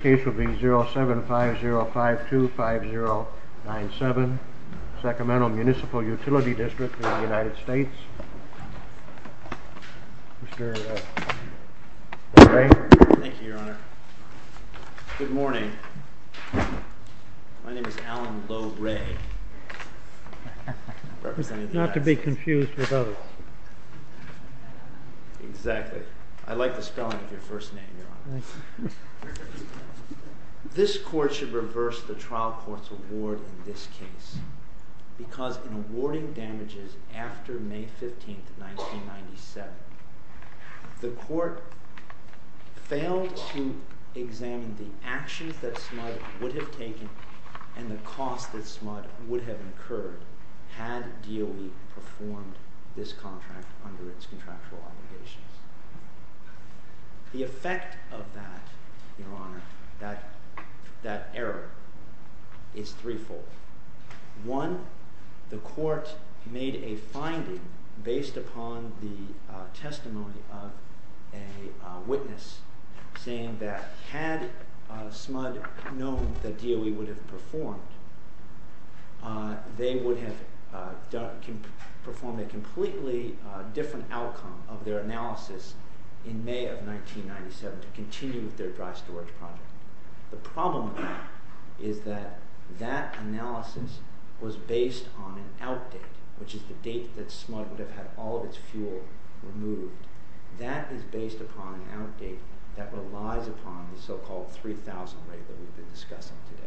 This case will be 0750525097, Sacramento Municipal Utility District v. United States, Mr. Lohre. Thank you, your honor. Good morning. My name is Alan Lohre. Not to be confused with others. Exactly. I like the spelling of your first name, your honor. This court should reverse the trial court's award in this case because in awarding damages after May 15, 1997, the court failed to examine the actions that SMUD would have taken and the cost that SMUD would have incurred had DOE performed this contract under its contractual obligations. The effect of that, your honor, that error, is threefold. One, the court made a finding based upon the testimony of a witness saying that had SMUD known that DOE would have performed, they would have performed a completely different outcome of their analysis in May of 1997 to continue with their dry storage project. The problem is that that analysis was based on an outdate, which is the date that SMUD would have had all of its fuel removed. That is based upon an outdate that relies upon the so-called 3000 rate that we've been discussing today.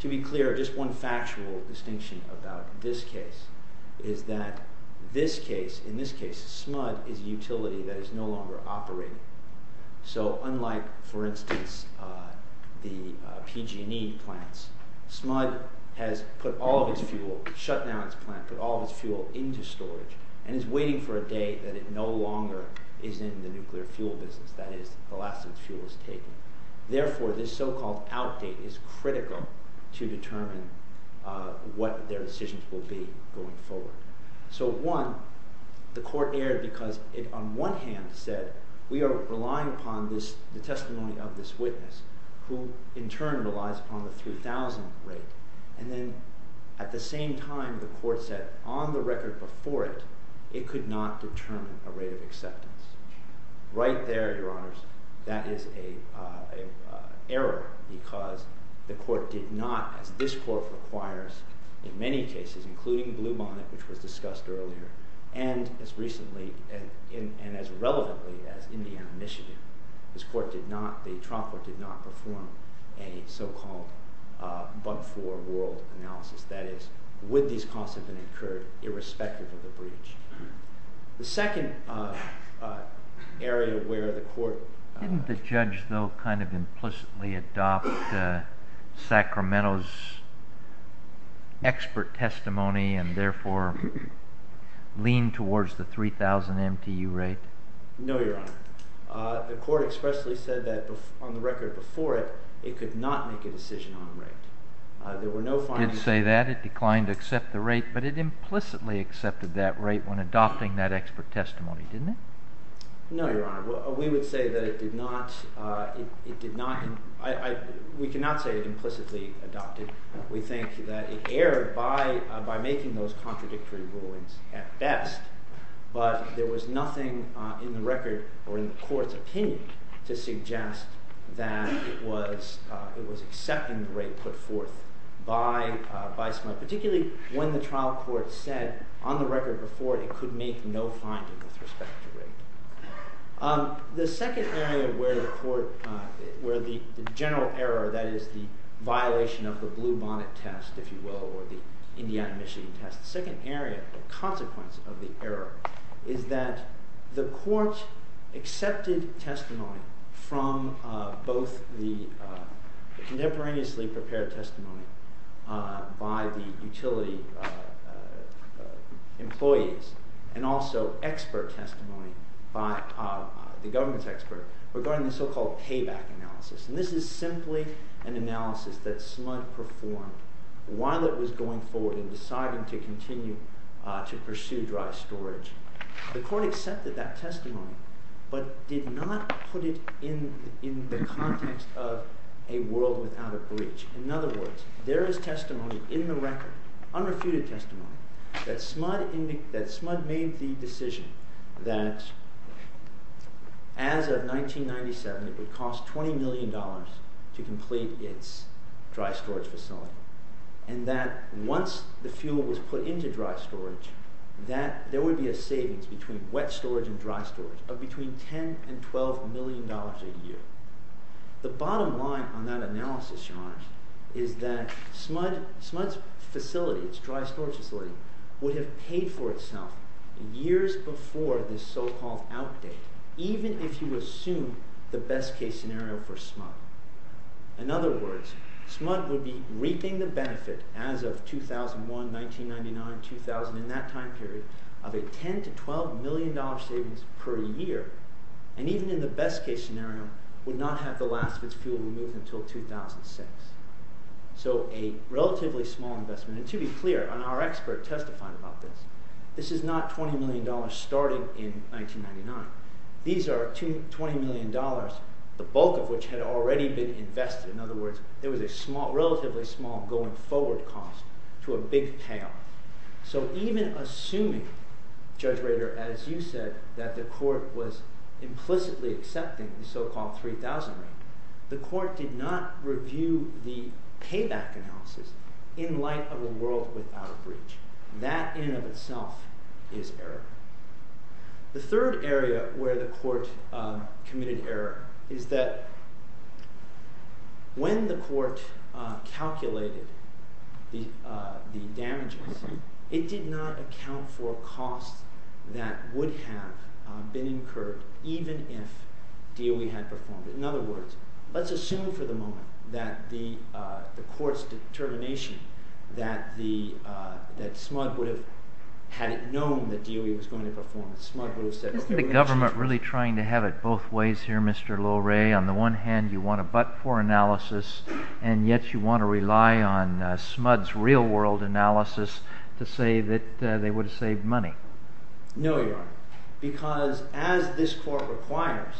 To be clear, just one factual distinction about this case is that in this case SMUD is a utility that is no longer operating. So unlike, for instance, the PG&E plants, SMUD has put all of its fuel, shut down its plant, put all of its fuel into storage and is waiting for a day that it no longer is in the nuclear fuel business, that is, the last of its fuel is taken. Therefore, this so-called outdate is critical to determine what their decisions will be going forward. So one, the court erred because it on one hand said we are relying upon the testimony of this witness who in turn relies upon the 3000 rate. And then at the same time the court said on the record before it, it could not determine a rate of acceptance. Right there, Your Honors, that is an error because the court did not, as this court requires in many cases, including Bluebonnet, which was discussed earlier, and as recently and as relevantly as Indiana Initiative, this court did not, the trial court did not perform a so-called but-for world analysis. That is, would these costs have been incurred irrespective of the breach? The second area where the court… Didn't the judge, though, kind of implicitly adopt Sacramento's expert testimony and therefore lean towards the 3000 MTU rate? No, Your Honor. The court expressly said that on the record before it, it could not make a decision on a rate. It did say that. It declined to accept the rate, but it implicitly accepted that rate when adopting that expert testimony, didn't it? No, Your Honor. We would say that it did not. It did not. We cannot say it implicitly adopted. We think that it erred by making those contradictory rulings at best, but there was nothing in the record or in the court's opinion to suggest that it was accepting the rate put forth by… Particularly when the trial court said on the record before it, it could make no finding with respect to rate. The second area where the court… Where the general error, that is, the violation of the blue bonnet test, if you will, or the Indiana-Michigan test. The second area, the consequence of the error, is that the court accepted testimony from both the contemporaneously prepared testimony by the utility employees and also expert testimony by the government expert regarding the so-called payback analysis. And this is simply an analysis that SMUD performed while it was going forward and deciding to continue to pursue dry storage. The court accepted that testimony but did not put it in the context of a world without a breach. In other words, there is testimony in the record, unrefuted testimony, that SMUD made the decision that as of 1997 it would cost $20 million to complete its dry storage facility. And that once the fuel was put into dry storage, there would be a savings between wet storage and dry storage of between $10 and $12 million a year. The bottom line on that analysis, Your Honor, is that SMUD's facility, its dry storage facility, would have paid for itself years before this so-called outdate, even if you assume the best-case scenario for SMUD. In other words, SMUD would be reaping the benefit as of 2001, 1999, 2000, in that time period, of a $10 to $12 million savings per year, and even in the best-case scenario, would not have the last of its fuel removed until 2006. So a relatively small investment. And to be clear, and our expert testified about this, this is not $20 million starting in 1999. These are $20 million, the bulk of which had already been invested. In other words, there was a relatively small going-forward cost to a big payoff. So even assuming, Judge Rader, as you said, that the Court was implicitly accepting the so-called $3,000 rate, the Court did not review the payback analysis in light of a world without a breach. That, in and of itself, is error. The third area where the Court committed error is that when the Court calculated the damages, it did not account for costs that would have been incurred even if DOE had performed it. In other words, let's assume for the moment that the Court's determination that SMUD would have had it known that DOE was going to perform it. SMUD would have said— Is the government really trying to have it both ways here, Mr. Loray? On the one hand, you want a but-for analysis, and yet you want to rely on SMUD's real-world analysis to say that they would have saved money. No, Your Honor, because as this Court requires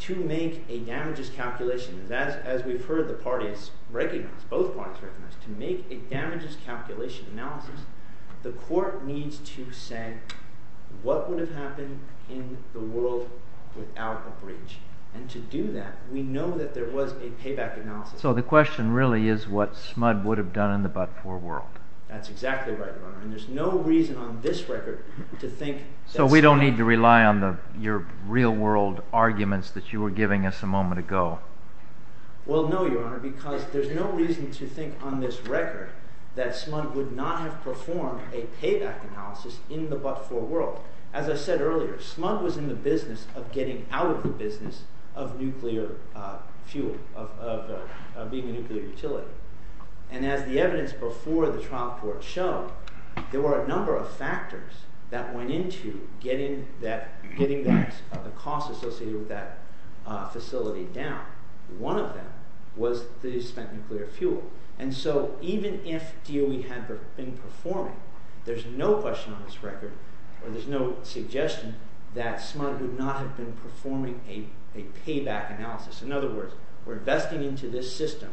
to make a damages calculation, as we've heard the parties recognize, both parties recognize, to make a damages calculation analysis, the Court needs to say what would have happened in the world without a breach. And to do that, we know that there was a payback analysis. So the question really is what SMUD would have done in the but-for world. That's exactly right, Your Honor, and there's no reason on this record to think that SMUD— So we don't need to rely on your real-world arguments that you were giving us a moment ago? Well, no, Your Honor, because there's no reason to think on this record that SMUD would not have performed a payback analysis in the but-for world. As I said earlier, SMUD was in the business of getting out of the business of nuclear fuel, of being a nuclear utility. And as the evidence before the trial court showed, there were a number of factors that went into getting the cost associated with that facility down. One of them was that he spent nuclear fuel. And so even if DOE had been performing, there's no question on this record or there's no suggestion that SMUD would not have been performing a payback analysis. In other words, we're investing into this system.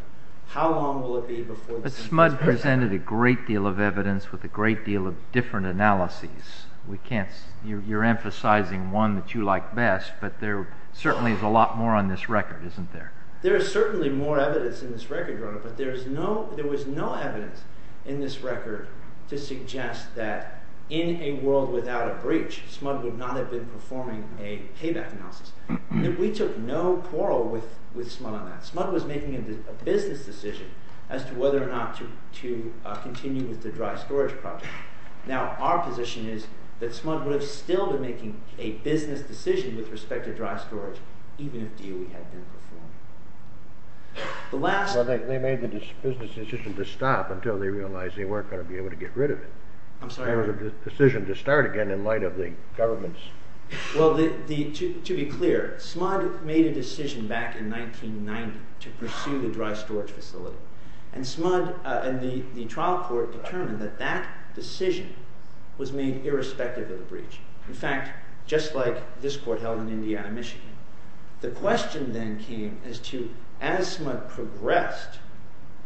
How long will it be before— SMUD presented a great deal of evidence with a great deal of different analyses. You're emphasizing one that you like best, but there certainly is a lot more on this record, isn't there? There is certainly more evidence in this record, Your Honor, but there was no evidence in this record to suggest that in a world without a breach, SMUD would not have been performing a payback analysis. We took no quarrel with SMUD on that. SMUD was making a business decision as to whether or not to continue with the dry storage project. Now, our position is that SMUD would have still been making a business decision with respect to dry storage even if DOE had been performing. The last— Well, they made the business decision to stop until they realized they weren't going to be able to get rid of it. I'm sorry? It was a decision to start again in light of the government's— Well, to be clear, SMUD made a decision back in 1990 to pursue the dry storage facility, and SMUD and the trial court determined that that decision was made irrespective of the breach. In fact, just like this court held in Indiana, Michigan. The question then came as to, as SMUD progressed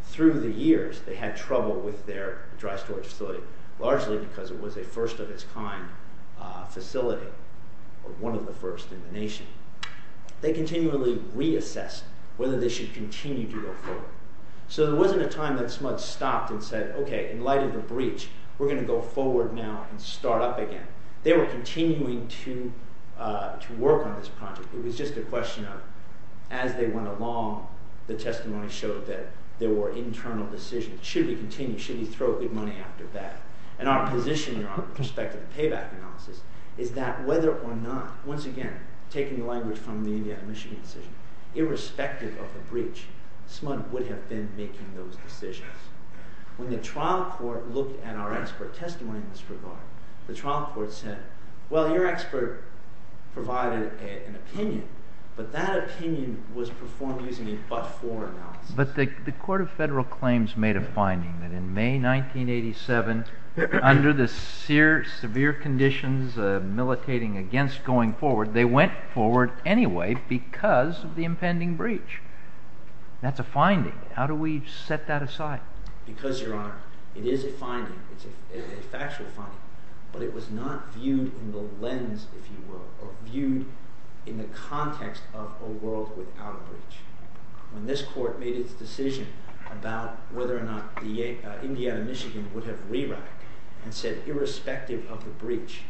through the years, they had trouble with their dry storage facility, largely because it was a first-of-its-kind facility, or one of the first in the nation. They continually reassessed whether they should continue to go forward. So there wasn't a time that SMUD stopped and said, okay, in light of the breach, we're going to go forward now and start up again. They were continuing to work on this project. It was just a question of, as they went along, the testimony showed that there were internal decisions. Should we continue? Should we throw good money after bad? And our position in respect to the payback analysis is that whether or not— Once again, taking the language from the Indiana, Michigan decision, irrespective of the breach, SMUD would have been making those decisions. When the trial court looked at our expert testimony in this regard, the trial court said, well, your expert provided an opinion, but that opinion was performed using a but-for analysis. But the Court of Federal Claims made a finding that in May 1987, under the severe conditions of militating against going forward, they went forward anyway because of the impending breach. That's a finding. How do we set that aside? Because, Your Honor, it is a finding. It's a factual finding. But it was not viewed in the lens, if you will, or viewed in the context of a world without a breach. When this court made its decision about whether or not the Indiana, Michigan would have rewritten and said, irrespective of the breach,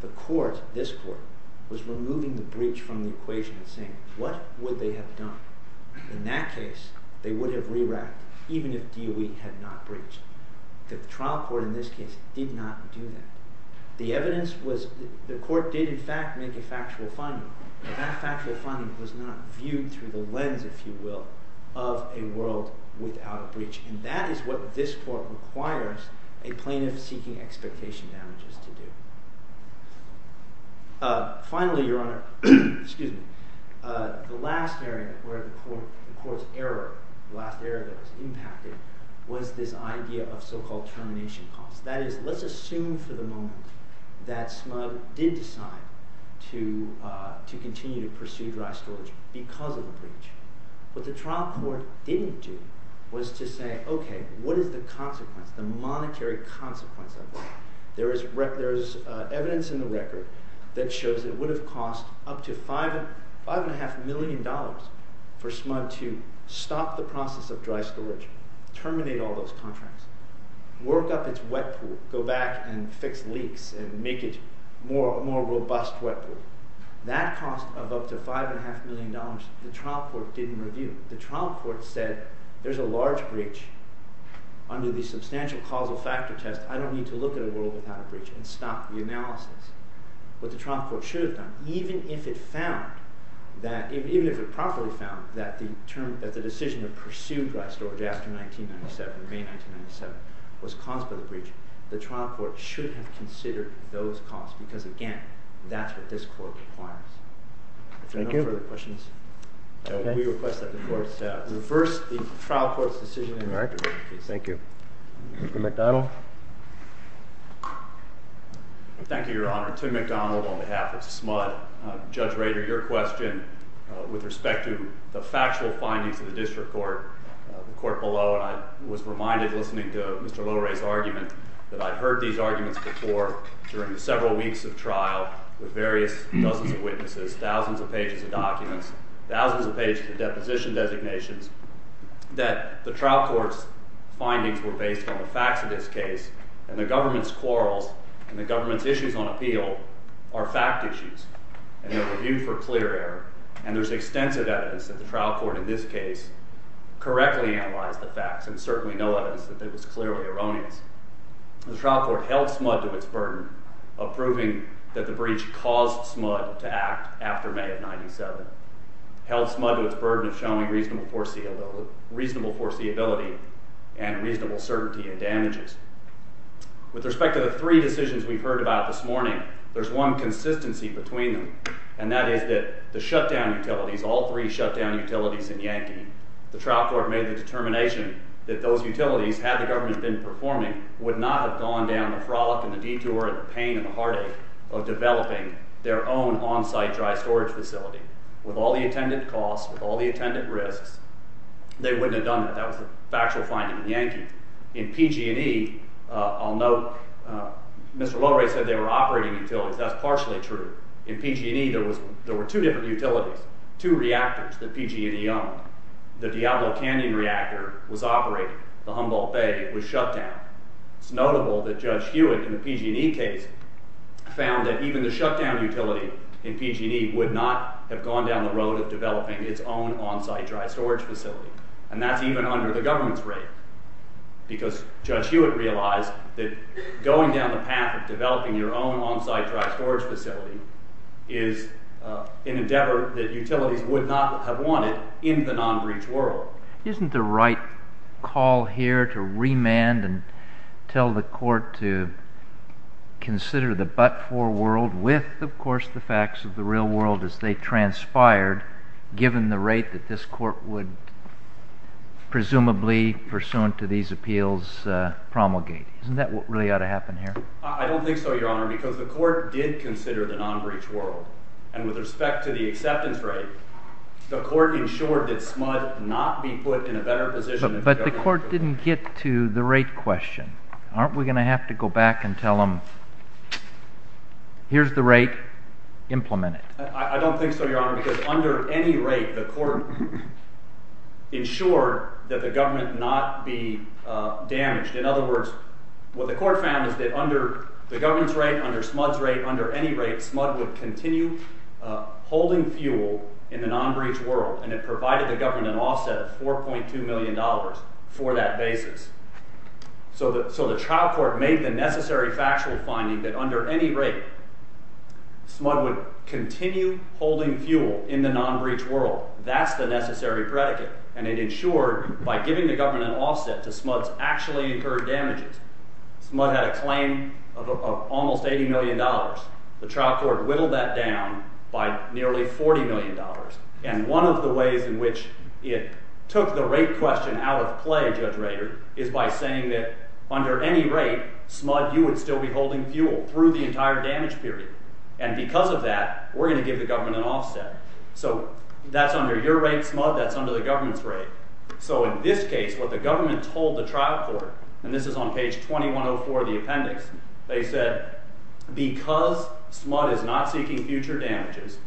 the court, this court, was removing the breach from the equation and saying, what would they have done? In that case, they would have rewritten, even if DOE had not breached. The trial court, in this case, did not do that. The evidence was, the court did in fact make a factual finding, but that factual finding was not viewed through the lens, if you will, of a world without a breach. And that is what this court requires a plaintiff seeking expectation damages to do. Finally, Your Honor, the last area where the court's error, the last area that was impacted, was this idea of so-called termination costs. That is, let's assume for the moment that SMUG did decide to continue to pursue dry storage because of the breach. What the trial court didn't do was to say, okay, what is the consequence, the monetary consequence of that? There is evidence in the record that shows it would have cost up to $5.5 million for SMUG to stop the process of dry storage, terminate all those contracts, work up its wet pool, go back and fix leaks and make it a more robust wet pool. That cost of up to $5.5 million, the trial court didn't review. The trial court said there's a large breach under the substantial causal factor test. I don't need to look at a world without a breach and stop the analysis. What the trial court should have done, even if it found that, even if it properly found that the decision to pursue dry storage after 1997, May 1997, was caused by the breach, the trial court should have considered those costs. Because again, that's what this court requires. No further questions? We request that the court reverse the trial court's decision in the record. Thank you. Mr. McDonald? Thank you, Your Honor. Tim McDonald on behalf of SMUG. Judge Rader, your question with respect to the factual findings of the district court, the court below, and I was reminded listening to Mr. Loray's argument that I'd heard these arguments before during the several weeks of trial with various dozens of witnesses. Thousands of pages of documents, thousands of pages of deposition designations, that the trial court's findings were based on the facts of this case. And the government's quarrels and the government's issues on appeal are fact issues. And they were viewed for clear error. And there's extensive evidence that the trial court in this case correctly analyzed the facts and certainly no evidence that it was clearly erroneous. The trial court held SMUG to its burden of proving that the breach caused SMUG to act after May of 1997. Held SMUG to its burden of showing reasonable foreseeability and reasonable certainty in damages. With respect to the three decisions we've heard about this morning, there's one consistency between them. And that is that the shutdown utilities, all three shutdown utilities in Yankee, the trial court made the determination that those utilities, had the government been performing, would not have gone down the frolic and the detour and the pain and the heartache of developing their own on-site dry storage facility. With all the attendant costs, with all the attendant risks, they wouldn't have done that. That was the factual finding in Yankee. In PG&E, I'll note Mr. Loray said they were operating utilities. That's partially true. In PG&E, there were two different utilities, two reactors that PG&E owned. The Diablo Canyon reactor was operating. The Humboldt Bay was shut down. It's notable that Judge Hewitt in the PG&E case found that even the shutdown utility in PG&E would not have gone down the road of developing its own on-site dry storage facility. And that's even under the government's rate. Because Judge Hewitt realized that going down the path of developing your own on-site dry storage facility is an endeavor that utilities would not have wanted in the non-breach world. Isn't the right call here to remand and tell the court to consider the but-for world with, of course, the facts of the real world as they transpired, given the rate that this court would presumably, pursuant to these appeals, promulgate? Isn't that what really ought to happen here? I don't think so, Your Honor, because the court did consider the non-breach world. And with respect to the acceptance rate, the court ensured that SMUD not be put in a better position. But the court didn't get to the rate question. Aren't we going to have to go back and tell them, here's the rate. Implement it. I don't think so, Your Honor, because under any rate, the court ensured that the government not be damaged. In other words, what the court found is that under the government's rate, under SMUD's rate, under any rate, SMUD would continue holding fuel in the non-breach world, and it provided the government an offset of $4.2 million for that basis. So the trial court made the necessary factual finding that under any rate, SMUD would continue holding fuel in the non-breach world. That's the necessary predicate. And it ensured by giving the government an offset to SMUD's actually incurred damages. SMUD had a claim of almost $80 million. The trial court whittled that down by nearly $40 million. And one of the ways in which it took the rate question out of play, Judge Rader, is by saying that under any rate, SMUD, you would still be holding fuel through the entire damage period. And because of that, we're going to give the government an offset. So that's under your rate, SMUD. That's under the government's rate. So in this case, what the government told the trial court, and this is on page 2104 of the appendix, they said, because SMUD is not seeking future damages,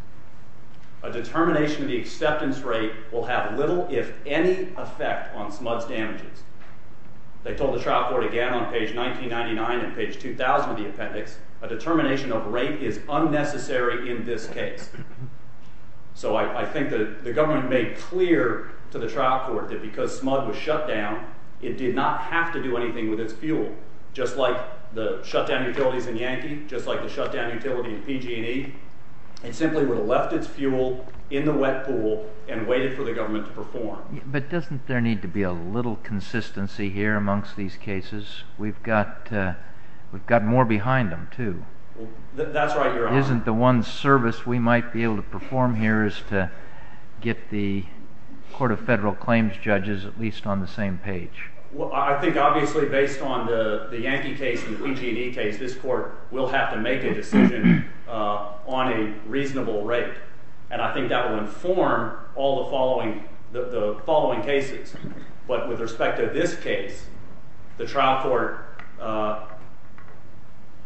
a determination of the acceptance rate will have little, if any, effect on SMUD's damages. They told the trial court again on page 1999 and page 2000 of the appendix, a determination of rate is unnecessary in this case. So I think the government made clear to the trial court that because SMUD was shut down, it did not have to do anything with its fuel, just like the shutdown utilities in Yankee, just like the shutdown utility in PG&E. It simply would have left its fuel in the wet pool and waited for the government to perform. But doesn't there need to be a little consistency here amongst these cases? We've got more behind them, too. That's right, Your Honor. Isn't the one service we might be able to perform here is to get the Court of Federal Claims judges at least on the same page? Well, I think obviously based on the Yankee case and the PG&E case, this court will have to make a decision on a reasonable rate. And I think that will inform all the following cases. But with respect to this case, the trial court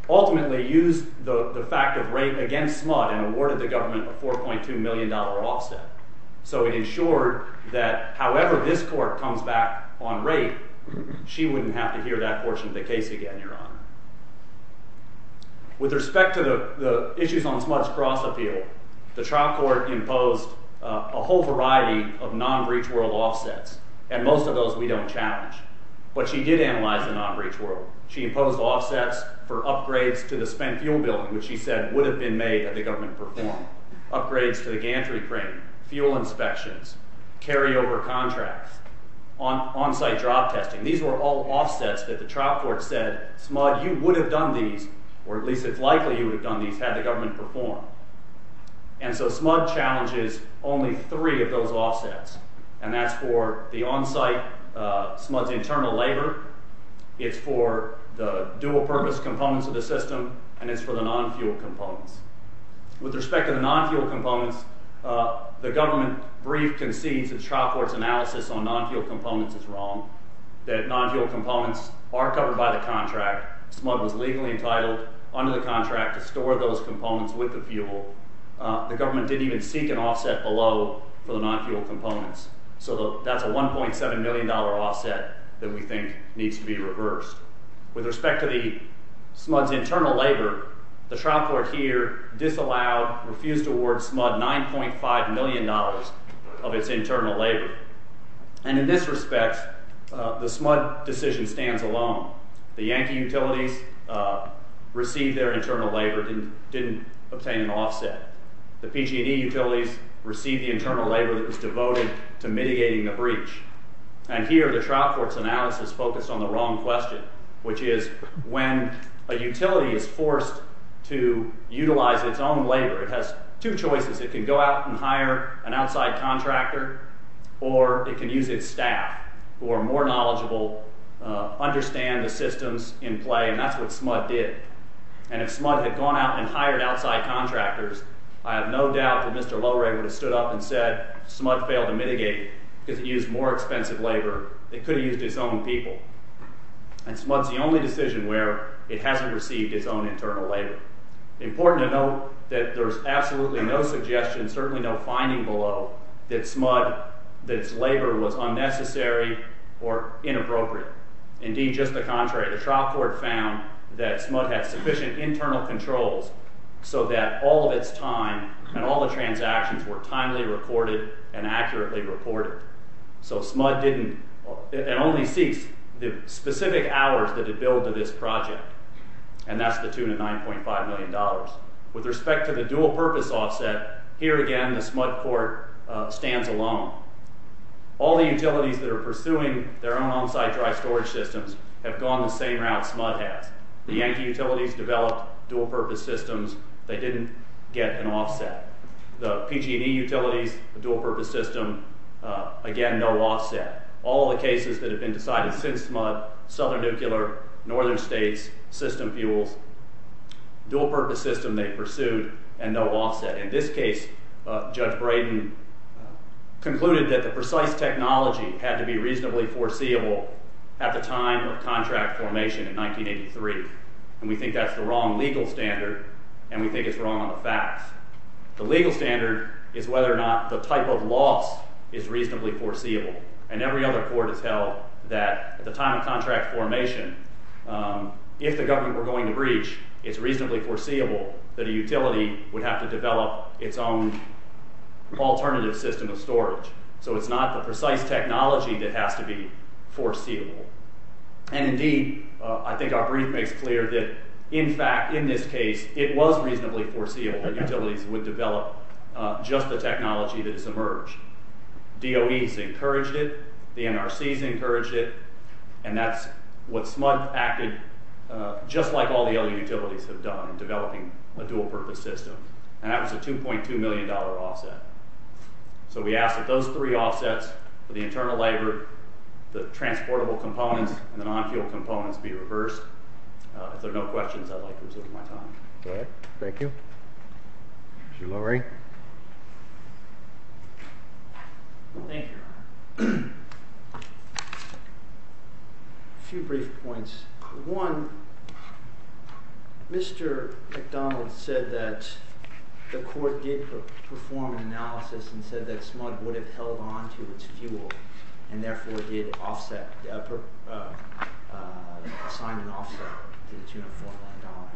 ultimately used the fact of rate against SMUD and awarded the government a $4.2 million offset. So it ensured that however this court comes back on rate, she wouldn't have to hear that portion of the case again, Your Honor. With respect to the issues on SMUD's cross appeal, the trial court imposed a whole variety of non-breach world offsets. And most of those we don't challenge. But she did analyze the non-breach world. She imposed offsets for upgrades to the spent fuel bill, which she said would have been made had the government performed. Upgrades to the gantry crane, fuel inspections, carryover contracts, on-site job testing. These were all offsets that the trial court said, SMUD, you would have done these, or at least it's likely you would have done these, had the government performed. And so SMUD challenges only three of those offsets. And that's for the on-site SMUD's internal labor. It's for the dual-purpose components of the system. And it's for the non-fuel components. With respect to the non-fuel components, the government brief concedes the trial court's analysis on non-fuel components is wrong. That non-fuel components are covered by the contract. SMUD was legally entitled under the contract to store those components with the fuel. The government didn't even seek an offset below for the non-fuel components. So that's a $1.7 million offset that we think needs to be reversed. With respect to SMUD's internal labor, the trial court here disallowed, refused to award SMUD $9.5 million of its internal labor. And in this respect, the SMUD decision stands alone. The Yankee utilities received their internal labor and didn't obtain an offset. The PG&E utilities received the internal labor that was devoted to mitigating the breach. And here the trial court's analysis focused on the wrong question, which is when a utility is forced to utilize its own labor, it has two choices. It can go out and hire an outside contractor or it can use its staff who are more knowledgeable, understand the systems in play. And that's what SMUD did. And if SMUD had gone out and hired outside contractors, I have no doubt that Mr. Lowry would have stood up and said SMUD failed to mitigate because it used more expensive labor. It could have used its own people. And SMUD's the only decision where it hasn't received its own internal labor. Important to note that there's absolutely no suggestion, certainly no finding below, that SMUD – that its labor was unnecessary or inappropriate. Indeed, just the contrary. The trial court found that SMUD had sufficient internal controls so that all of its time and all the transactions were timely recorded and accurately reported. So SMUD didn't – it only ceased the specific hours that it billed to this project. And that's the tune of $9.5 million. With respect to the dual-purpose offset, here again the SMUD court stands alone. All the utilities that are pursuing their own on-site dry storage systems have gone the same route SMUD has. The Yankee utilities developed dual-purpose systems. They didn't get an offset. The PG&E utilities, the dual-purpose system, again, no offset. All the cases that have been decided since SMUD – Southern Nuclear, Northern States, System Fuels – dual-purpose system they pursued and no offset. In this case, Judge Braden concluded that the precise technology had to be reasonably foreseeable at the time of contract formation in 1983. And we think that's the wrong legal standard, and we think it's wrong on the facts. The legal standard is whether or not the type of loss is reasonably foreseeable. And every other court has held that at the time of contract formation, if the government were going to breach, it's reasonably foreseeable that a utility would have to develop its own alternative system of storage. So it's not the precise technology that has to be foreseeable. And indeed, I think our brief makes clear that, in fact, in this case, it was reasonably foreseeable that utilities would develop just the technology that has emerged. DOE's encouraged it. The NRC's encouraged it. And that's what SMUD acted just like all the other utilities have done in developing a dual-purpose system. And that was a $2.2 million offset. So we ask that those three offsets for the internal labor, the transportable components, and the non-fuel components be reversed. If there are no questions, I'd like to resume my time. All right. Thank you. Mr. Lurie? Thank you, Your Honor. A few brief points. One, Mr. McDonald said that the court did perform an analysis and said that SMUD would have held on to its fuel and therefore did offset – assigned an offset to the $2.4 million.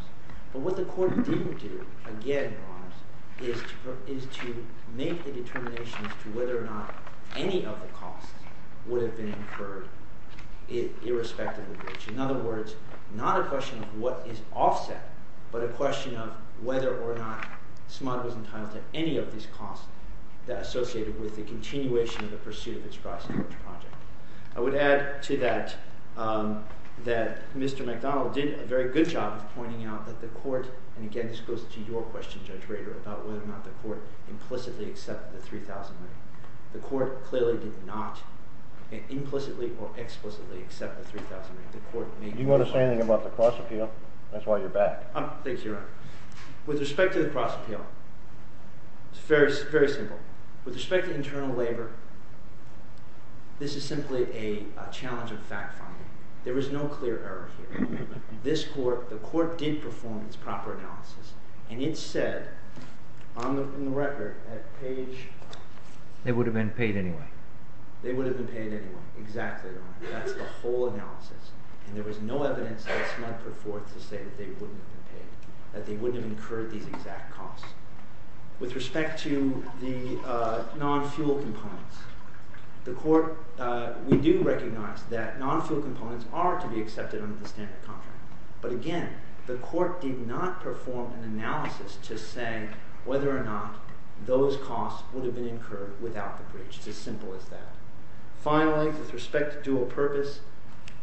But what the court didn't do, again, Your Honors, is to make the determination as to whether or not any of the costs would have been incurred irrespective of the breach. In other words, not a question of what is offset, but a question of whether or not SMUD was entitled to any of these costs that are associated with the continuation of the pursuit of its price coverage project. I would add to that that Mr. McDonald did a very good job of pointing out that the court – and again, this goes to your question, Judge Rader, about whether or not the court implicitly accepted the $3,000. The court clearly did not implicitly or explicitly accept the $3,000. Do you want to say anything about the cross appeal? That's why you're back. Thank you, Your Honor. With respect to the cross appeal, it's very simple. With respect to internal labor, this is simply a challenge of fact finding. There is no clear error here. The court did perform its proper analysis, and it said on the record at page – They would have been paid anyway. They would have been paid anyway. Exactly, Your Honor. That's the whole analysis. And there was no evidence that SMUD put forth to say that they wouldn't have been paid, that they wouldn't have incurred these exact costs. With respect to the non-fuel components, the court – we do recognize that non-fuel components are to be accepted under the standard contract. But again, the court did not perform an analysis to say whether or not those costs would have been incurred without the breach. It's as simple as that. Finally, with respect to dual purpose,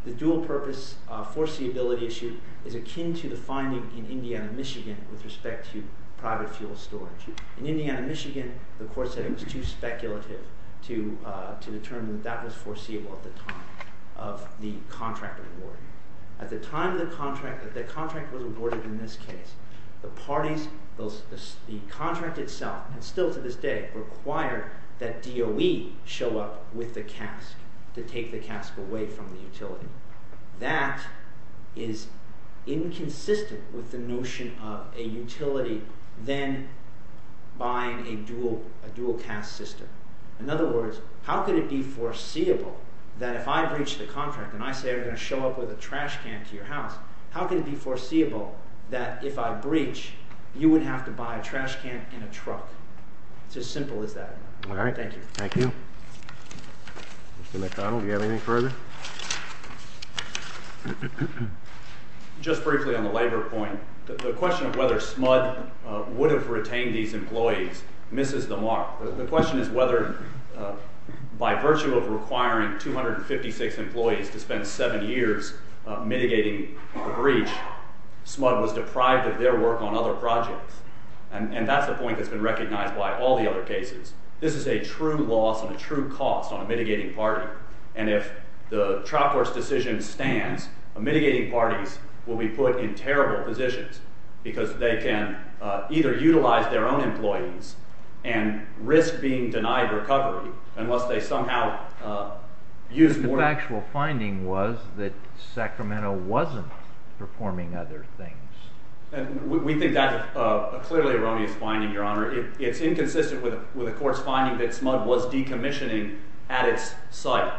the dual purpose foreseeability issue is akin to the finding in Indiana, Michigan with respect to private fuel storage. In Indiana, Michigan, the court said it was too speculative to determine that that was foreseeable at the time of the contract award. At the time the contract was awarded in this case, the parties – the contract itself, and still to this day, require that DOE show up with the cask to take the cask away from the utility. That is inconsistent with the notion of a utility then buying a dual cask system. In other words, how could it be foreseeable that if I breach the contract and I say I'm going to show up with a trash can to your house, how could it be foreseeable that if I breach, you wouldn't have to buy a trash can in a truck? It's as simple as that. All right. Thank you. Thank you. Mr. McConnell, do you have anything further? Just briefly on the labor point, the question of whether SMUD would have retained these employees misses the mark. The question is whether, by virtue of requiring 256 employees to spend seven years mitigating a breach, SMUD was deprived of their work on other projects. And that's a point that's been recognized by all the other cases. This is a true loss and a true cost on a mitigating party. And if the trial court's decision stands, mitigating parties will be put in terrible positions because they can either utilize their own employees and risk being denied recovery unless they somehow use more. But the factual finding was that Sacramento wasn't performing other things. We think that's a clearly erroneous finding, Your Honor. It's inconsistent with the court's finding that SMUD was decommissioning at its site.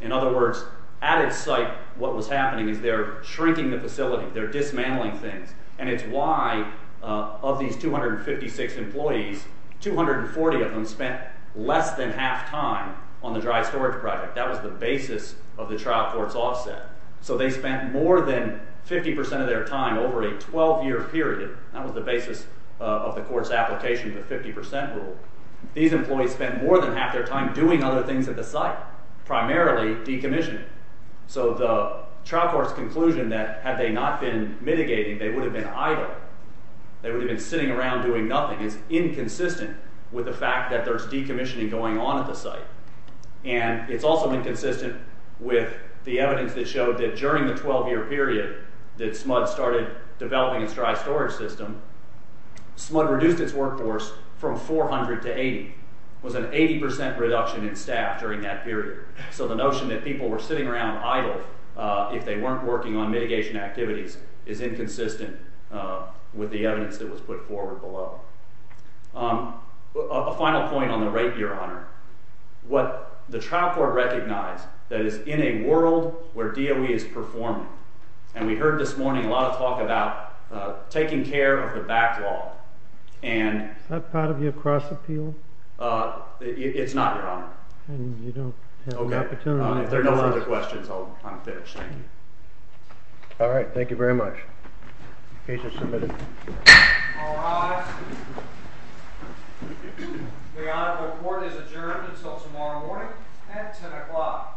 In other words, at its site, what was happening is they're shrinking the facility. They're dismantling things. And it's why, of these 256 employees, 240 of them spent less than half time on the dry storage project. That was the basis of the trial court's offset. So they spent more than 50 percent of their time over a 12-year period. That was the basis of the court's application of the 50 percent rule. These employees spent more than half their time doing other things at the site, primarily decommissioning. So the trial court's conclusion that had they not been mitigating, they would have been idle, they would have been sitting around doing nothing, is inconsistent with the fact that there's decommissioning going on at the site. And it's also inconsistent with the evidence that showed that during the 12-year period that SMUD started developing its dry storage system, SMUD reduced its workforce from 400 to 80. It was an 80 percent reduction in staff during that period. So the notion that people were sitting around idle if they weren't working on mitigation activities is inconsistent with the evidence that was put forward below. A final point on the rate, Your Honor. The trial court recognized that it's in a world where DOE is performing. And we heard this morning a lot of talk about taking care of the backlog. Is that part of your cross-appeal? It's not, Your Honor. If there are no further questions, I'll finish. All right. Thank you very much. Case is submitted. All rise. The honorable court is adjourned until tomorrow morning at 10 o'clock.